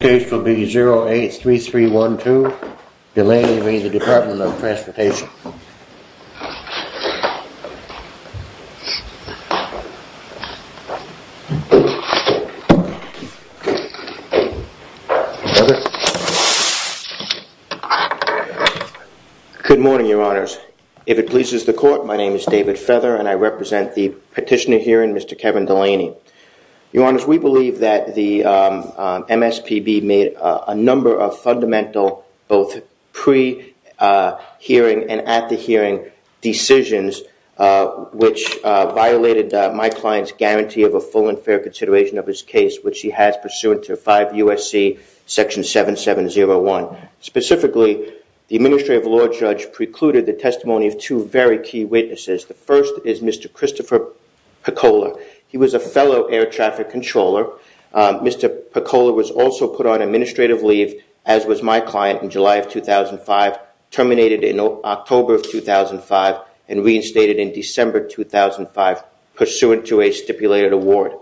case will be 083312 Delaney v. The Department of Transportation. Good morning, your honors. If it pleases the court, my name is David Feather and I represent the petitioner here in Mr. Kevin Delaney. Your honors, we believe that the MSPB made a number of fundamental, both pre-hearing and at the hearing decisions, which violated my client's guarantee of a full and fair consideration of his case, which he has pursuant to 5 U.S.C. Section 7701. Specifically, the administrative law judge precluded the testimony of two very key witnesses. The first is Mr. Christopher Picola. He was a fellow air traffic controller. Mr. Picola was also put on administrative leave, as was my client in July of 2005, terminated in October of 2005, and reinstated in December 2005 pursuant to a stipulated award.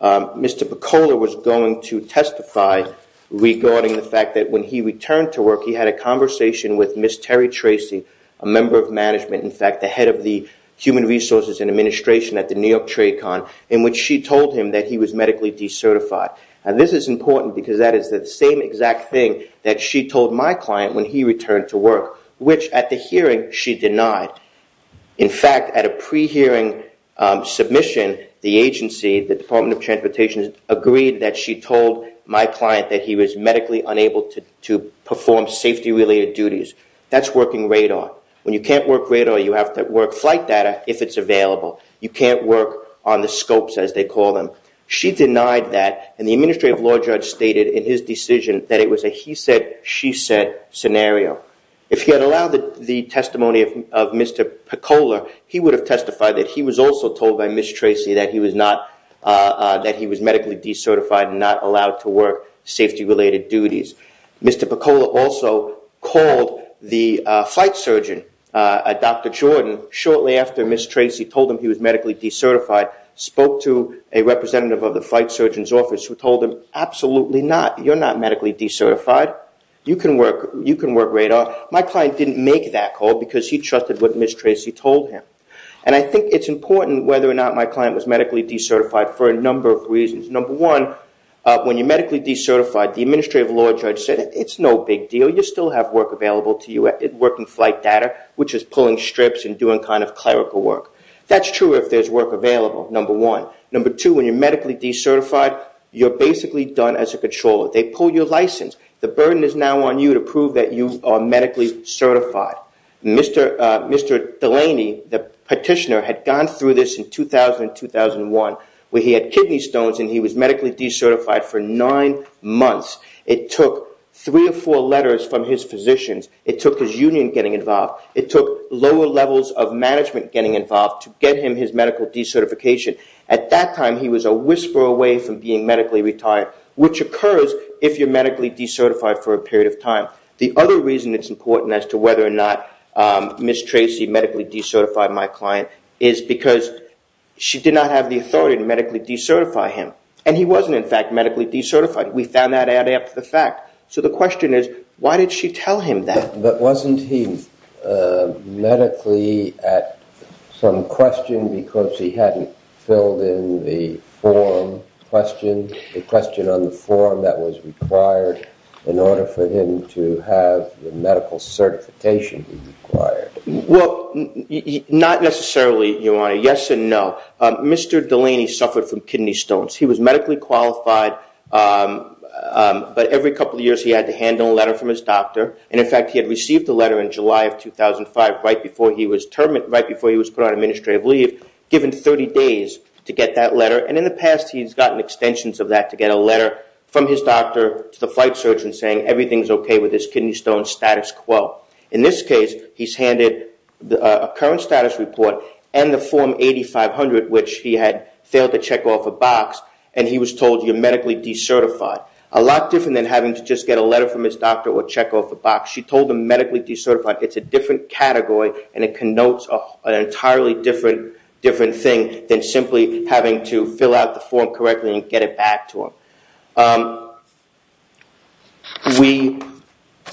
Mr. Picola was going to testify regarding the fact that when he returned to work, he had a conversation with Ms. Terry Tracy, a member of management, in fact, the head of the Human Resources and Administration at the New York Trade Con, in which she told him that he was medically decertified. And this is important because that is the same exact thing that she told my client when he returned to work, which at the hearing, she denied. In fact, at a pre-hearing submission, the agency, the Department of Transportation, agreed that she told my client that he was medically unable to perform safety-related duties. That's working radar. When you can't work radar, you have to work flight data, if it's available. You can't work on the scopes, as they call them. She denied that, and the administrative law judge stated in his decision that it was a he said, she said scenario. If he had allowed the testimony of Mr. Picola, he would have testified that he was also told by Ms. Tracy that he was medically decertified and not allowed to work safety-related duties. Mr. Picola also called the flight surgeon, Dr. Jordan, shortly after Ms. Tracy told him he was medically decertified, spoke to a representative of the flight surgeon's office who told him, absolutely not. You're not medically decertified. You can work radar. My client didn't make that call because he trusted what Ms. Tracy told him. And I think it's important whether or not my client was medically decertified for a number of reasons. Number one, when you're medically decertified, the administrative law judge said, it's no big deal. You still have work available to you, working flight data, which is pulling strips and doing kind of clerical work. That's true if there's work available, number one. Number two, when you're medically decertified, you're basically done as a controller. They pull your license. The burden is now on you to prove that you are medically certified. Mr. Delaney, the he was medically decertified for nine months. It took three or four letters from his physicians. It took his union getting involved. It took lower levels of management getting involved to get him his medical decertification. At that time, he was a whisper away from being medically retired, which occurs if you're medically decertified for a period of time. The other reason it's important as to whether or not Ms. Tracy medically decertified my client is because she did not have the authority to medically decertify him. He wasn't, in fact, medically decertified. We found that adding up to the fact. The question is, why did she tell him that? But wasn't he medically at some question because he hadn't filled in the form question, the question on the form that was required in order for him to have the medical certification required? Well, not necessarily, Your Honor. Yes and no. Mr. Delaney suffered from kidney stones. He was medically qualified, but every couple of years he had to handle a letter from his doctor. In fact, he had received a letter in July of 2005, right before he was put on administrative leave, given 30 days to get that letter. In the past, he's gotten extensions of that to get a letter from his doctor to the flight surgeon saying everything's okay with his kidney stone status quo. In this case, he's handed a current status report and the form 8500, which he had failed to check off a box and he was told you're medically decertified. A lot different than having to just get a letter from his doctor or check off a box. She told him medically decertified. It's a different category and it connotes an entirely different thing than having to fill out the form correctly and get it back to him. We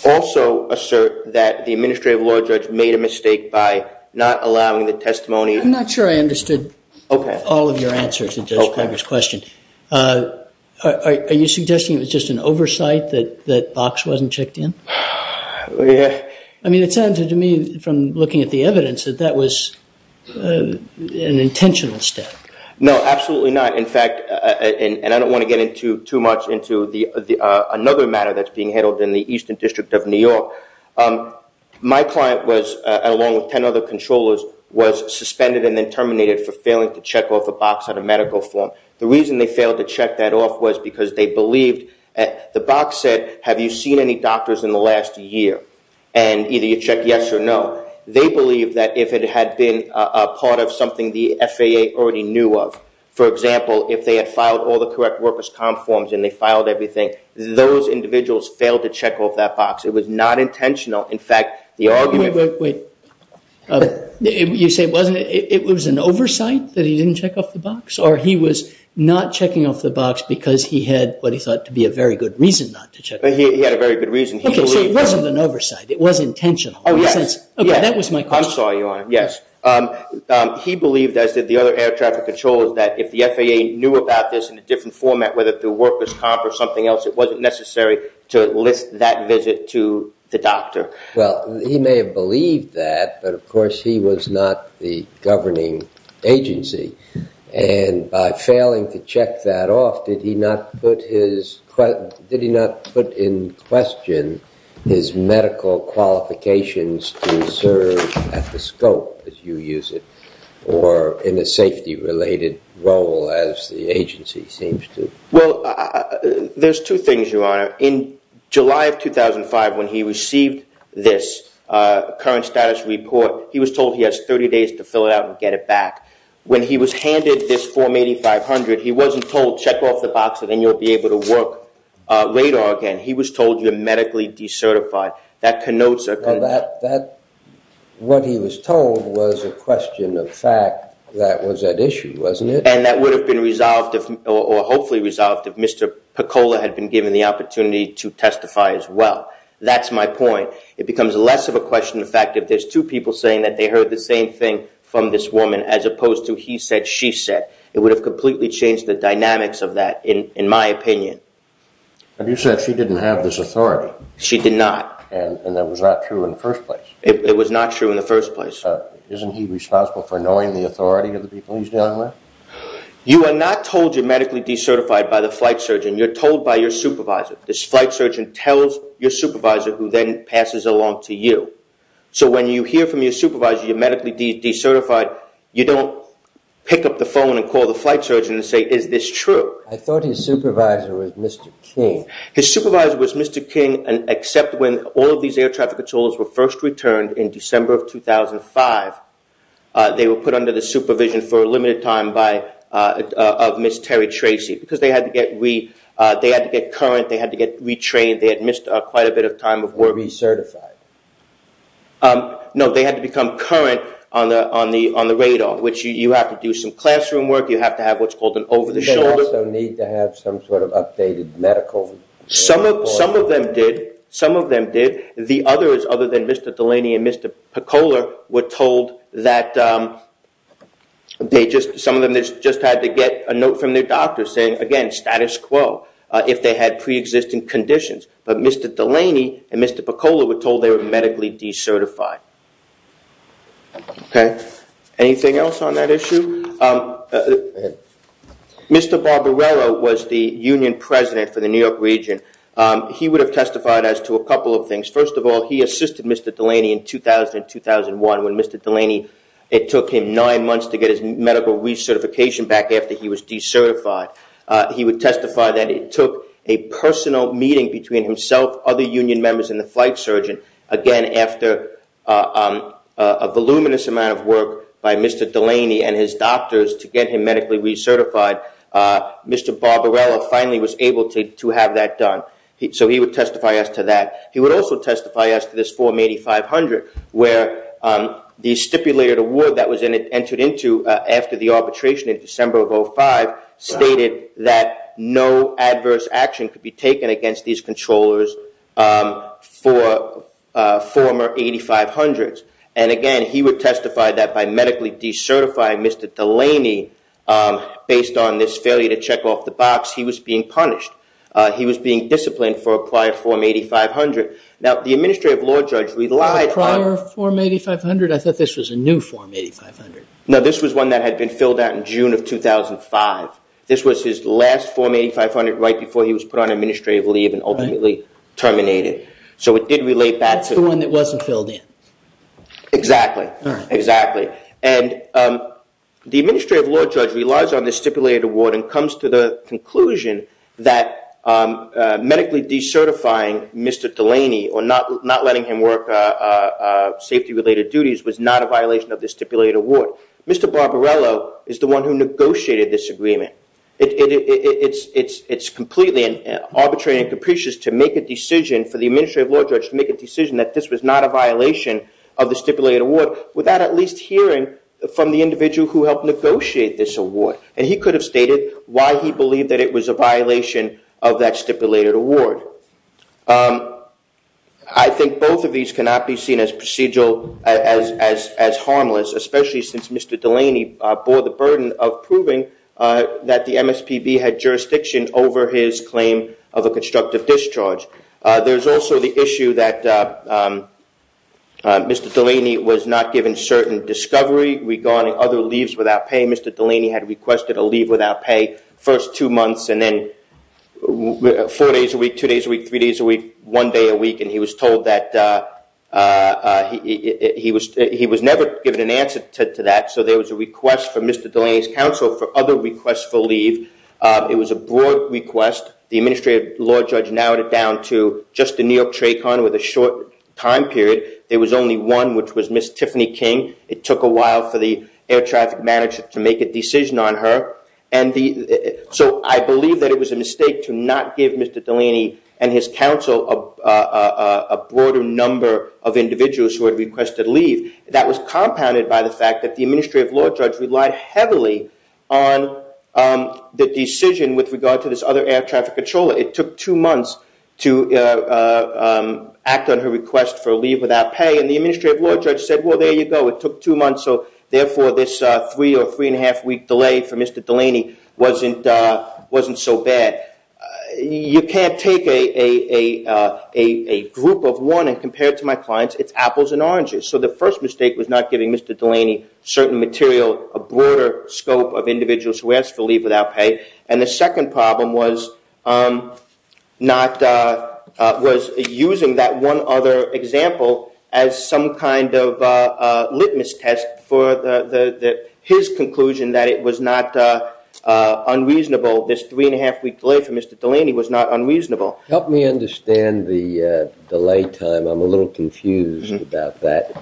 also assert that the administrative law judge made a mistake by not allowing the testimony. I'm not sure I understood all of your answers to Judge Greger's question. Are you suggesting it was just an oversight that box wasn't checked in? I mean, it sounded to me from looking at the evidence that that was an intentional step. No, absolutely not. In fact, and I don't want to get into too much into another matter that's being handled in the Eastern District of New York. My client was, along with 10 other controllers, was suspended and then terminated for failing to check off a box on a medical form. The reason they failed to check that off was because they believed the box said, have you seen any doctors in the last year? And either you check yes or no. They believed that if it had been a part of something the FAA already knew of, for example, if they had filed all the correct workers' comp forms and they filed everything, those individuals failed to check off that box. It was not intentional. In fact, the argument- Wait, wait, wait. You say it was an oversight that he didn't check off the box or he was not checking off the box because he had what he thought to be a very good reason not to check? He had a very good reason. So it wasn't an oversight. It was intentional. Oh, yes. Okay. That was my question. I'm sorry, Your Honor. Yes. He believed, as did the other air traffic controllers, that if the FAA knew about this in a different format, whether through workers' comp or something else, it wasn't necessary to list that visit to the doctor. Well, he may have believed that, but of course, he was not the governing agency. And by failing to check that off, did he not put in question his medical qualifications to serve at the scope, as you use it, or in a safety-related role, as the agency seems to- Well, there's two things, Your Honor. In July of 2005, when he received this current status report, he was told he has 30 days to fill it out and get it back. When he was handed this form 8500, he wasn't told, check off the box, and then you'll be able to work radar again. He was told you're medically decertified. That connotes a- Well, what he was told was a question of fact that was at issue, wasn't it? And that would have been resolved, or hopefully resolved, if Mr. Pecola had been given the opportunity to testify as well. That's my point. It becomes less of a question of fact if there's two people saying that they heard the same thing from this woman, as opposed to he said, she said. It would have completely changed the dynamics of that, in my opinion. But you said she didn't have this authority. She did not. And that was not true in the first place. It was not true in the first place. Isn't he responsible for knowing the authority of the people he's dealing with? You are not told you're medically decertified by the flight surgeon. You're told by your supervisor. This flight surgeon tells your supervisor, who then passes along to you. So when you hear from your supervisor you're medically decertified, you don't pick up the phone and call the flight surgeon and say, is this true? I thought his supervisor was Mr. King. His supervisor was Mr. King, except when all of these air traffic controllers were first returned in December of 2005. They were put under the supervision for a limited time by, of Ms. Terry Tracy, because they had to get current, they had to get retrained, they had missed quite a bit of time of work. Recertified. No, they had to become current on the radar, which you have to do some classroom work, you have to have what's called an over the shoulder. They also need to have some sort of updated medical? Some of them did. Some of them did. The others, other than Mr. Delaney and Mr. Pecola, were told that they just, some of them just had to get a note from their doctor saying, again, status quo, if they had pre-existing conditions. But Mr. Delaney and Mr. Pecola were told they were medically decertified. Okay. Anything else on that issue? Mr. Barbarella was the union president for the New York region. He would have testified as to a couple of things. First of all, he assisted Mr. Delaney in 2000 and 2001 when Mr. Delaney, it took him nine months to get his medical recertification back after he was decertified. He would testify that it took a personal meeting between himself, other union members, and the flight surgeon. Again, after a voluminous amount of work by Mr. Delaney and his doctors to get him medically recertified, Mr. Barbarella finally was able to have that done. So he would testify as to that. He would also testify as to this form 8500, where the stipulated award that was entered into after the arbitration in December of 05 stated that no adverse action could be taken against these controllers for former 8500s. And again, he would testify that by medically decertifying Mr. Delaney based on this failure to check off the box, he was being punished. He was being disciplined for a prior form 8500. Now, the administrative law judge relied on- A prior form 8500? I thought this was a new form 8500. No, this was one that had been filled out in June of 2005. This was his last form 8500 right before he was put on administrative leave and ultimately terminated. So it did relate back to- The one that wasn't filled in. Exactly. Exactly. And the administrative law judge relies on the stipulated award and comes to the conclusion that medically decertifying Mr. Delaney or not letting him work safety-related duties was not a violation of the stipulated award. Mr. Barbarella is the one who negotiated this agreement. It's completely arbitrary and capricious to make a decision for the administrative law judge to make a decision that this was not a violation of the stipulated award without at least hearing from the individual who helped negotiate this award. And he could have stated why he believed that it was a violation of that stipulated award. I think both of these cannot be seen as procedural, as harmless, especially since Mr. Delaney bore the burden of proving that the MSPB had jurisdiction over his claim of a constructive discharge. There's also the issue that Mr. Delaney was not given certain discovery regarding other leaves without pay. Mr. Delaney had requested a leave without pay first two months and then four days a week, two days a week, three days a week, one day a week, and he was told that he was never given an answer to that. So there was a request from Mr. Delaney's counsel for other requests for leave. It was a broad request. The administrative law judge narrowed it down to just the New York trach on with a short time period. There was only one, which was Miss Tiffany King. It took a while for the air traffic manager to make a decision on her. And so I believe that it was a mistake to not give Mr. Delaney and his counsel a broader number of individuals who had requested leave. That was compounded by the fact that the administrative law judge relied heavily on the decision with regard to this other air traffic controller. It took two months to act on her request for leave without pay. And the administrative law judge said, well, there you go. It took two months. So therefore, this three or three and a half week delay for Mr. Delaney wasn't so bad. You can't take a group of one and compare it to my clients. It's apples and oranges. So the first mistake was not giving Mr. Delaney certain material, a broader scope of individuals who asked for leave without pay. And the second problem was not was using that one other example as some kind of litmus test for his conclusion that it was not unreasonable. This three and a half week delay for Mr. Delaney was not unreasonable. Help me understand the delay time. I'm a little confused about that.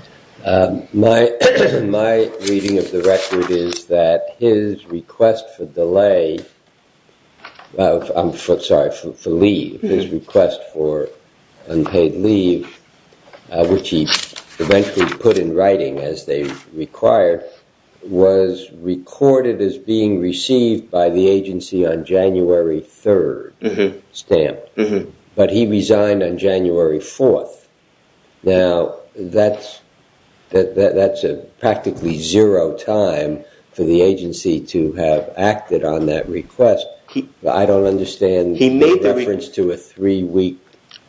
My reading of the record is that his request for delay, I'm sorry, for leave, his request for unpaid leave, which he eventually put in writing as they require, was recorded as being received by the agency on January 3rd stamp. But he resigned on January 4th. Now, that's a practically zero time for the agency to have acted on that request. I don't understand the reference to a three week.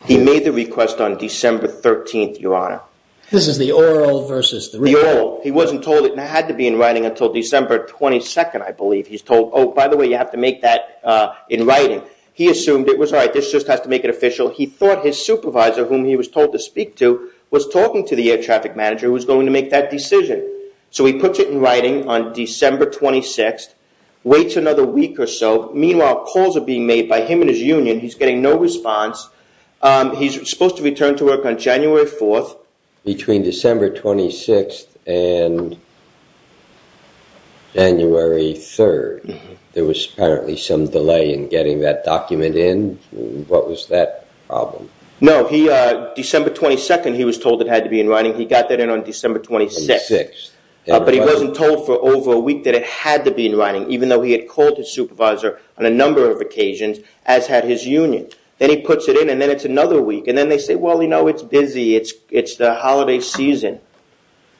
He made the request on December 13th, Your Honor. This is the oral versus the written. The oral. He wasn't told it had to be in writing until December 22nd, I believe he's told. Oh, by the way, you have to make that in writing. He assumed it was all right. This just has to make it official. He thought his supervisor, whom he was told to speak to, was talking to the air traffic manager who was going to make that decision. So he puts it in writing on December 26th, waits another week or so. Meanwhile, calls are being made by him and his union. He's getting no response. He's supposed to return to work on January 4th. Between December 26th and January 3rd, there was apparently some delay in getting that document in. What was that problem? No, December 22nd, he was told it had to be in writing. He got that in on December 26th. But he wasn't told for over a week that it had to be in writing, even though he had called his supervisor on a number of occasions, as had his union. Then he puts it in and then it's another week. Then they say, well, you know, it's busy. It's the holiday season.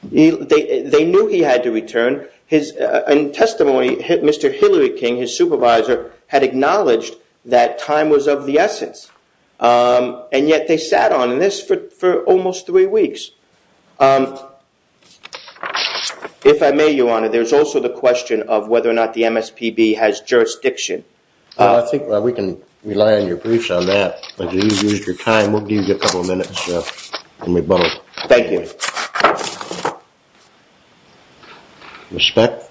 They knew he had to return. In testimony, Mr. Hillary King, his supervisor, had acknowledged that time was of the essence, and yet they sat on this for almost three weeks. If I may, Your Honor, there's also the question of whether or not the MSPB has jurisdiction. I think we can rely on your briefs on that, but you've used your time. We'll give you a couple of minutes when we bubble. Thank you. Respect?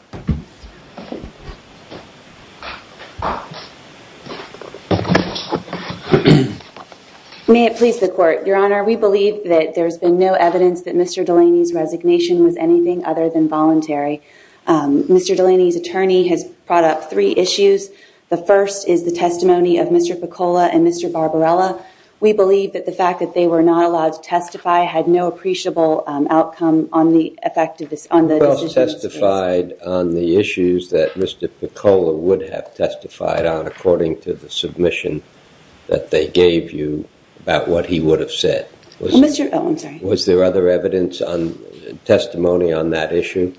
May it please the Court. Your Honor, we believe that there's been no evidence that Mr. Delaney's resignation was anything other than voluntary. Mr. Delaney's attorney has brought up three issues. The first is the testimony of Mr. Picola and Mr. Barbarella. We believe that the fact that they were not allowed to testify had no appreciable outcome on the effectiveness on the testified on the issues that Mr. Picola would have testified on according to the submission that they gave you about what he would have said. Mr. Owens, was there other evidence on testimony on that issue?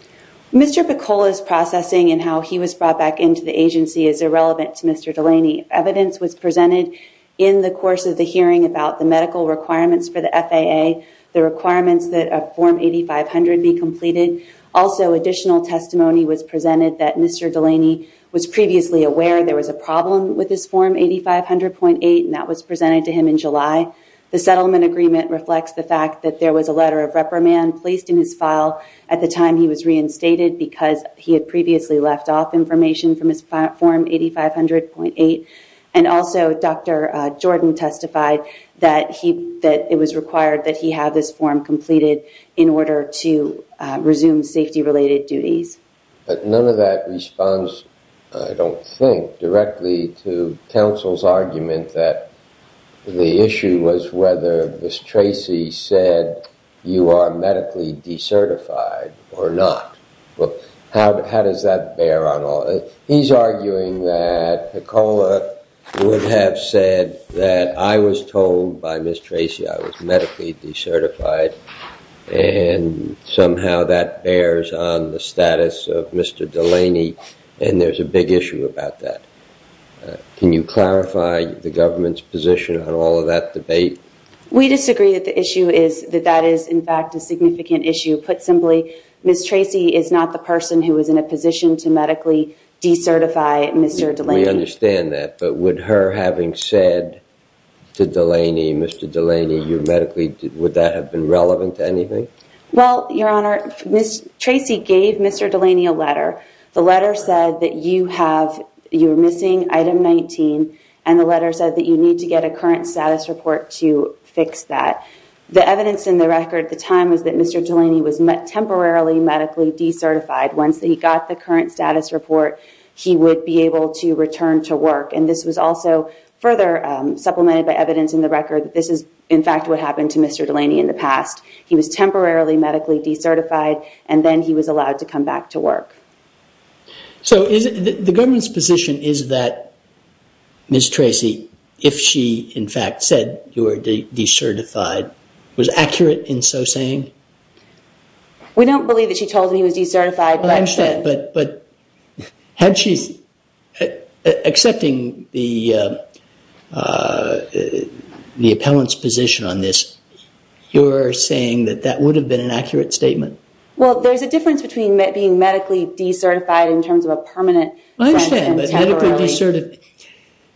Mr. Picola's processing and how he was brought back into the agency is irrelevant to Mr. Delaney. Evidence was presented in the course of the hearing about the medical requirements for the FAA, the requirements that a Form 8500 be completed. Also, additional testimony was presented that Mr. Delaney was previously aware there was a problem with this Form 8500.8, and that was presented to him in July. The settlement agreement reflects the fact that there was a letter of reprimand placed in his file at the time he was reinstated because he had previously left off information from his Form 8500.8. And also, Dr. Jordan testified that it was required that he have this form completed in order to resume safety-related duties. But none of that responds, I don't think, directly to counsel's argument that the issue was whether Ms. Tracy said you are medically decertified or not. Well, how does that bear on all this? He's arguing that Picola would have said that I was told by Ms. Tracy I was medically decertified, and somehow that bears on the status of Mr. Delaney, and there's a big issue about that. Can you clarify the government's position on all of that debate? We disagree that the issue is that that is, in fact, a significant issue. Put simply, Ms. Tracy is not the person who is in a position to medically decertify Mr. Delaney. We understand that, but would her having said to Mr. Delaney, would that have been relevant to anything? Well, Your Honor, Ms. Tracy gave Mr. Delaney a letter. The letter said that you were missing item 19, and the letter said that you need to get a current status report to fix that. The evidence in the record at the time was that Mr. Delaney was temporarily medically decertified. Once he got the current status report, he would be able to return to work. And this was also further supplemented by evidence in the record that this is, in fact, what happened to Mr. Delaney. He was temporarily medically decertified, and then he was allowed to come back to work. So the government's position is that, Ms. Tracy, if she, in fact, said you were decertified, was accurate in so saying? We don't believe that she told him he was decertified. But had she's accepting the appellant's position on this, you're saying that that would have been an accurate statement? Well, there's a difference between being medically decertified in terms of a permanent... I understand, but medically decertified...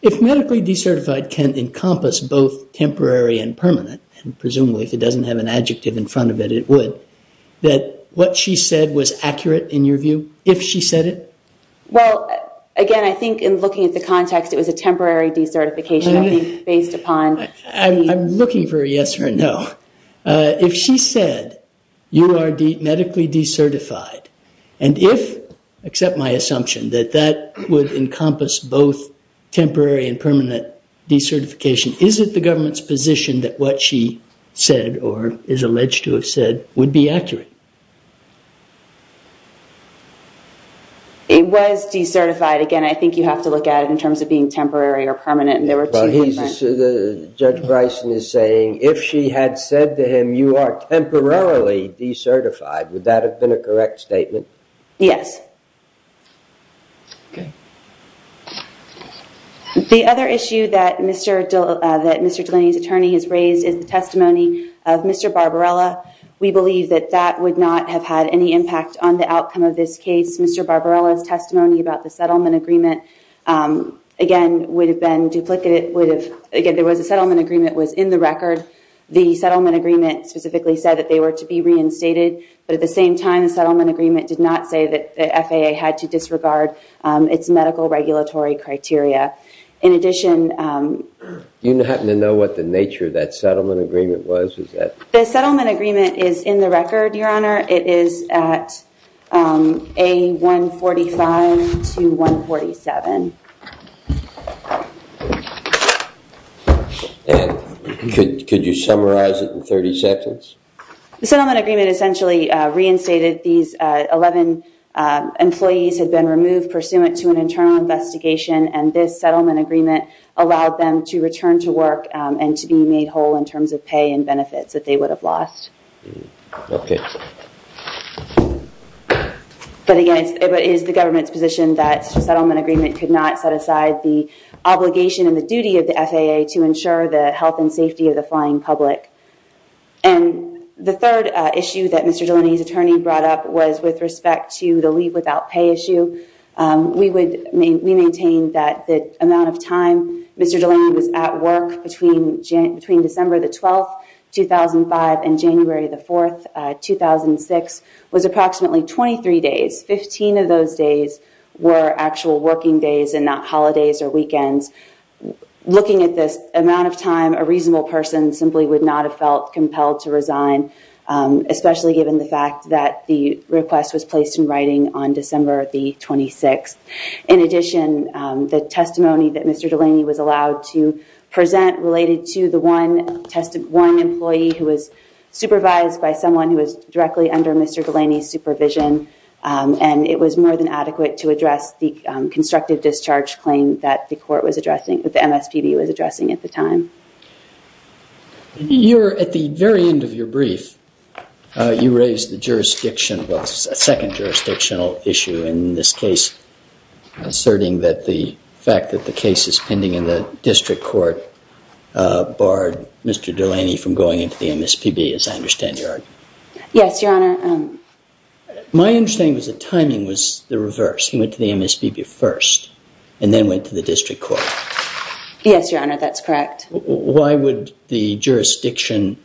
If medically decertified can encompass both temporary and permanent, and presumably if it doesn't have an adjective in front of it, it would, that what she said was accurate, in your view, if she said it? Well, again, I think in looking at the context, it was a temporary decertification based upon... I'm looking for a yes or a no. If she said you are medically decertified, and if, except my assumption, that that would encompass both temporary and permanent decertification, is it the government's position that what she said, or is alleged to have said, would be accurate? It was decertified. Again, I think you have to look at it in terms of being temporary or permanent, and there were two... Judge Bryson is saying, if she had said to him, you are temporarily decertified, would that have been a correct statement? Yes. The other issue that Mr. Delaney's attorney has raised is the testimony of Mr. Barbarella. We believe that that would not have had any impact on the outcome of this case. Mr. Barbarella's duplicate... Again, there was a settlement agreement that was in the record. The settlement agreement specifically said that they were to be reinstated, but at the same time, the settlement agreement did not say that the FAA had to disregard its medical regulatory criteria. In addition... Do you happen to know what the nature of that settlement agreement was? The settlement agreement is in the record, Your Honor. It is at A145 to 147. And could you summarize it in 30 seconds? The settlement agreement essentially reinstated these 11 employees had been removed pursuant to an internal investigation, and this settlement agreement allowed them to return to work and to be made whole in terms of pay and benefits that they would have lost. Okay. But again, it is the government's position that the settlement agreement could not set aside the obligation and the duty of the FAA to ensure the health and safety of the flying public. And the third issue that Mr. Delaney's attorney brought up was with respect to the leave without pay issue. We maintained that the amount of time Mr. Delaney was at work between December the 12th, 2005, and January the 4th, 2006, was approximately 23 days. 15 of those days were actual working days and not holidays or weekends. Looking at this amount of time, a reasonable person simply would not have felt compelled to resign, especially given the fact that the request was placed in writing on December the 26th. In addition, the testimony that Mr. Delaney was allowed to present related to the one employee who was supervised by someone who was directly under Mr. Delaney's supervision, and it was more than adequate to address the constructive discharge claim that the court was addressing, that the MSPB was addressing at the time. You're at the very end of your brief, you raised the jurisdiction, well, a second jurisdictional issue in this case, asserting that the fact that the case is pending in the district court barred Mr. Delaney from going into the MSPB, as I understand your argument. Yes, Your Honor. My understanding was the timing was the reverse. He went to the MSPB first and then went to the district court. Yes, Your Honor, that's correct. Why would the jurisdictional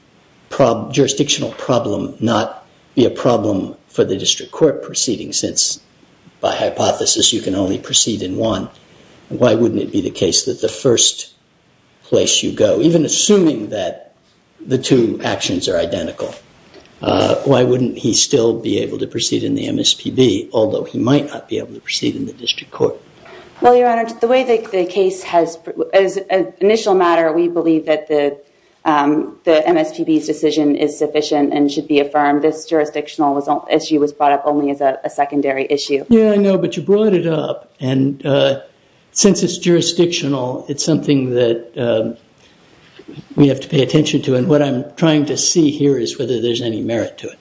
problem not be a problem for the district court proceeding since by hypothesis you can only proceed in one? Why wouldn't it be the case that the first place you go, even assuming that the two actions are identical, why wouldn't he still be able to proceed in the MSPB, although he might not be able to proceed in the district court? Well, Your Honor, the way the case has, as an initial matter, we believe that the MSPB's decision is sufficient and should be affirmed. This jurisdictional issue was brought up only as a secondary issue. Yeah, I know, but you brought it up, and since it's jurisdictional, it's something that we have to pay attention to, and what I'm trying to see here is whether there's any merit to it.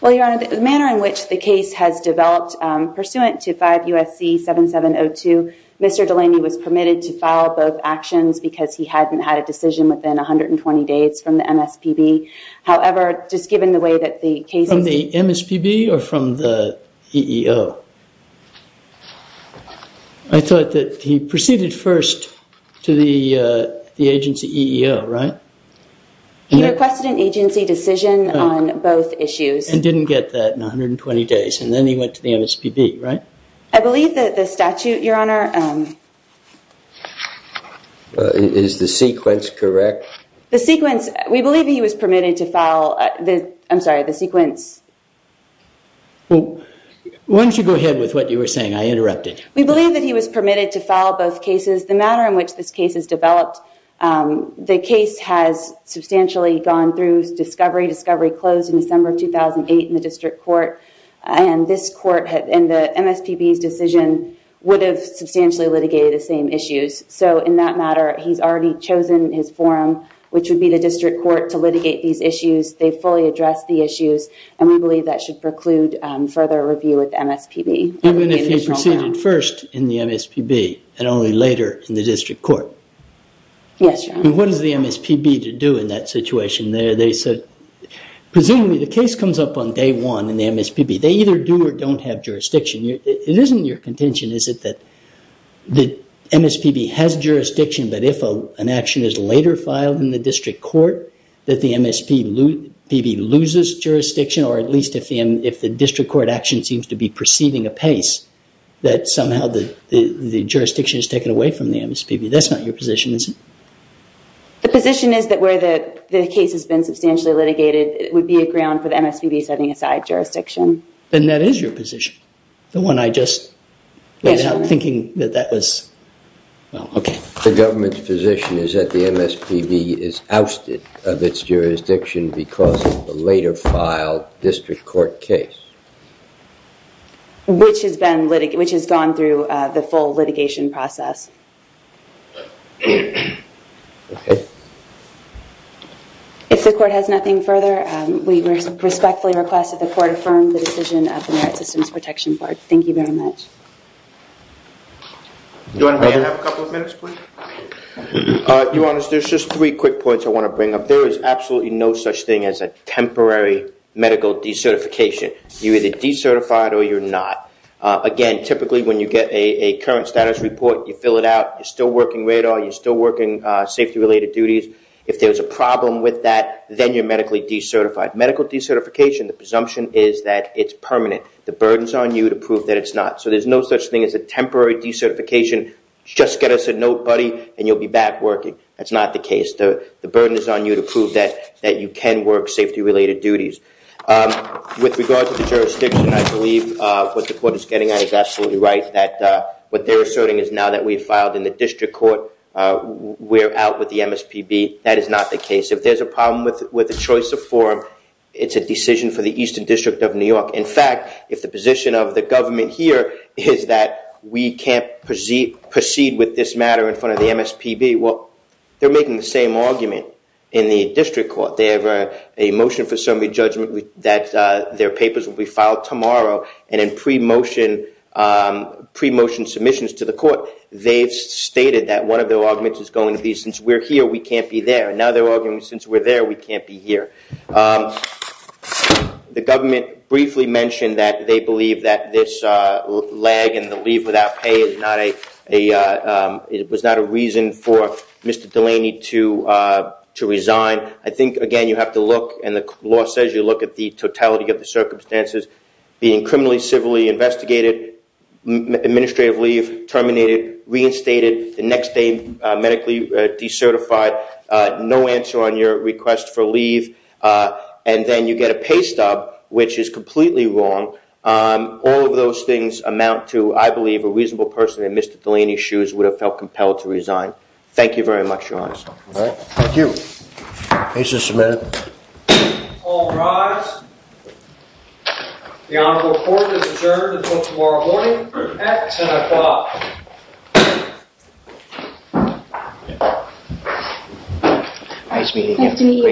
Well, Your Honor, the manner in which the case has developed pursuant to 5 U.S.C. 7702, Mr. Delaney was permitted to file both actions because he hadn't had a decision within 120 days from the MSPB. However, just given the way that the case- From the MSPB or from the EEO? I thought that he proceeded first to the agency EEO, right? He requested an agency decision on both issues. And didn't get that in 120 days, and then he went to the MSPB, right? I believe that the statute, Your Honor- Is the sequence correct? The sequence, we believe he was permitted to file the, I'm sorry, the sequence- Well, why don't you go ahead with what you were saying? I interrupted. We believe that he was permitted to file both cases. The manner in which this case is developed, the case has substantially gone through discovery, discovery closed in December of 2008 in the district court, and this court, in the MSPB's decision, would have substantially litigated the same issues. So in that matter, he's already chosen his forum, which would be the district court, to litigate these issues. They fully addressed the issues, and we believe that should preclude further review with the MSPB. Even if he proceeded- First in the MSPB, and only later in the district court. Yes, Your Honor. What is the MSPB to do in that situation there? They said- Presumably, the case comes up on day one in the MSPB. They either do or don't have jurisdiction. It isn't your contention, is it, that the MSPB has jurisdiction, but if an action is later filed in the district court, that the MSPB loses jurisdiction, or at least if the district court action seems to be proceeding apace, that somehow the jurisdiction is taken away from the MSPB. That's not your position, is it? The position is that where the case has been substantially litigated, it would be a ground for the MSPB setting aside jurisdiction. Then that is your position, the one I just laid out, thinking that that was- Well, okay. The government's position is that the MSPB is ousted of its jurisdiction because of the later filed district court case. Which has gone through the full litigation process. Okay. If the court has nothing further, we respectfully request that the court affirm the decision of the Merit Systems Protection Board. Thank you very much. Do you want to have a couple of minutes, please? Your Honor, there's just three quick points I want to bring up. There is absolutely no thing as a temporary medical decertification. You're either decertified or you're not. Again, typically when you get a current status report, you fill it out, you're still working radar, you're still working safety-related duties. If there's a problem with that, then you're medically decertified. Medical decertification, the presumption is that it's permanent. The burden's on you to prove that it's not. There's no such thing as a temporary decertification. Just get us a note, buddy, and you'll be back working. That's not the case. The burden is on you to prove that you can work safety-related duties. With regard to the jurisdiction, I believe what the court is getting at is absolutely right. What they're asserting is now that we've filed in the district court, we're out with the MSPB. That is not the case. If there's a problem with the choice of form, it's a decision for the Eastern District of New York. In fact, if the position of the government here is that we can't proceed with this matter in front of the MSPB, well, they're making the same argument in the district court. They have a motion for summary judgment that their papers will be filed tomorrow and in pre-motion submissions to the court, they've stated that one of their arguments is going to be, since we're here, we can't be there. Now they're arguing, since we're there, we can't be here. The government briefly mentioned that they believe that this and the leave without pay was not a reason for Mr. Delaney to resign. I think, again, you have to look, and the law says you look at the totality of the circumstances, being criminally, civilly investigated, administrative leave terminated, reinstated, the next day medically decertified, no answer on your request for leave, and then you get a pay which is completely wrong. All of those things amount to, I believe, a reasonable person in Mr. Delaney's shoes would have felt compelled to resign. Thank you very much, Your Honor. All right, thank you. Case is submitted. All rise. The Honorable Court is adjourned until tomorrow morning at 10 o'clock. Nice meeting you.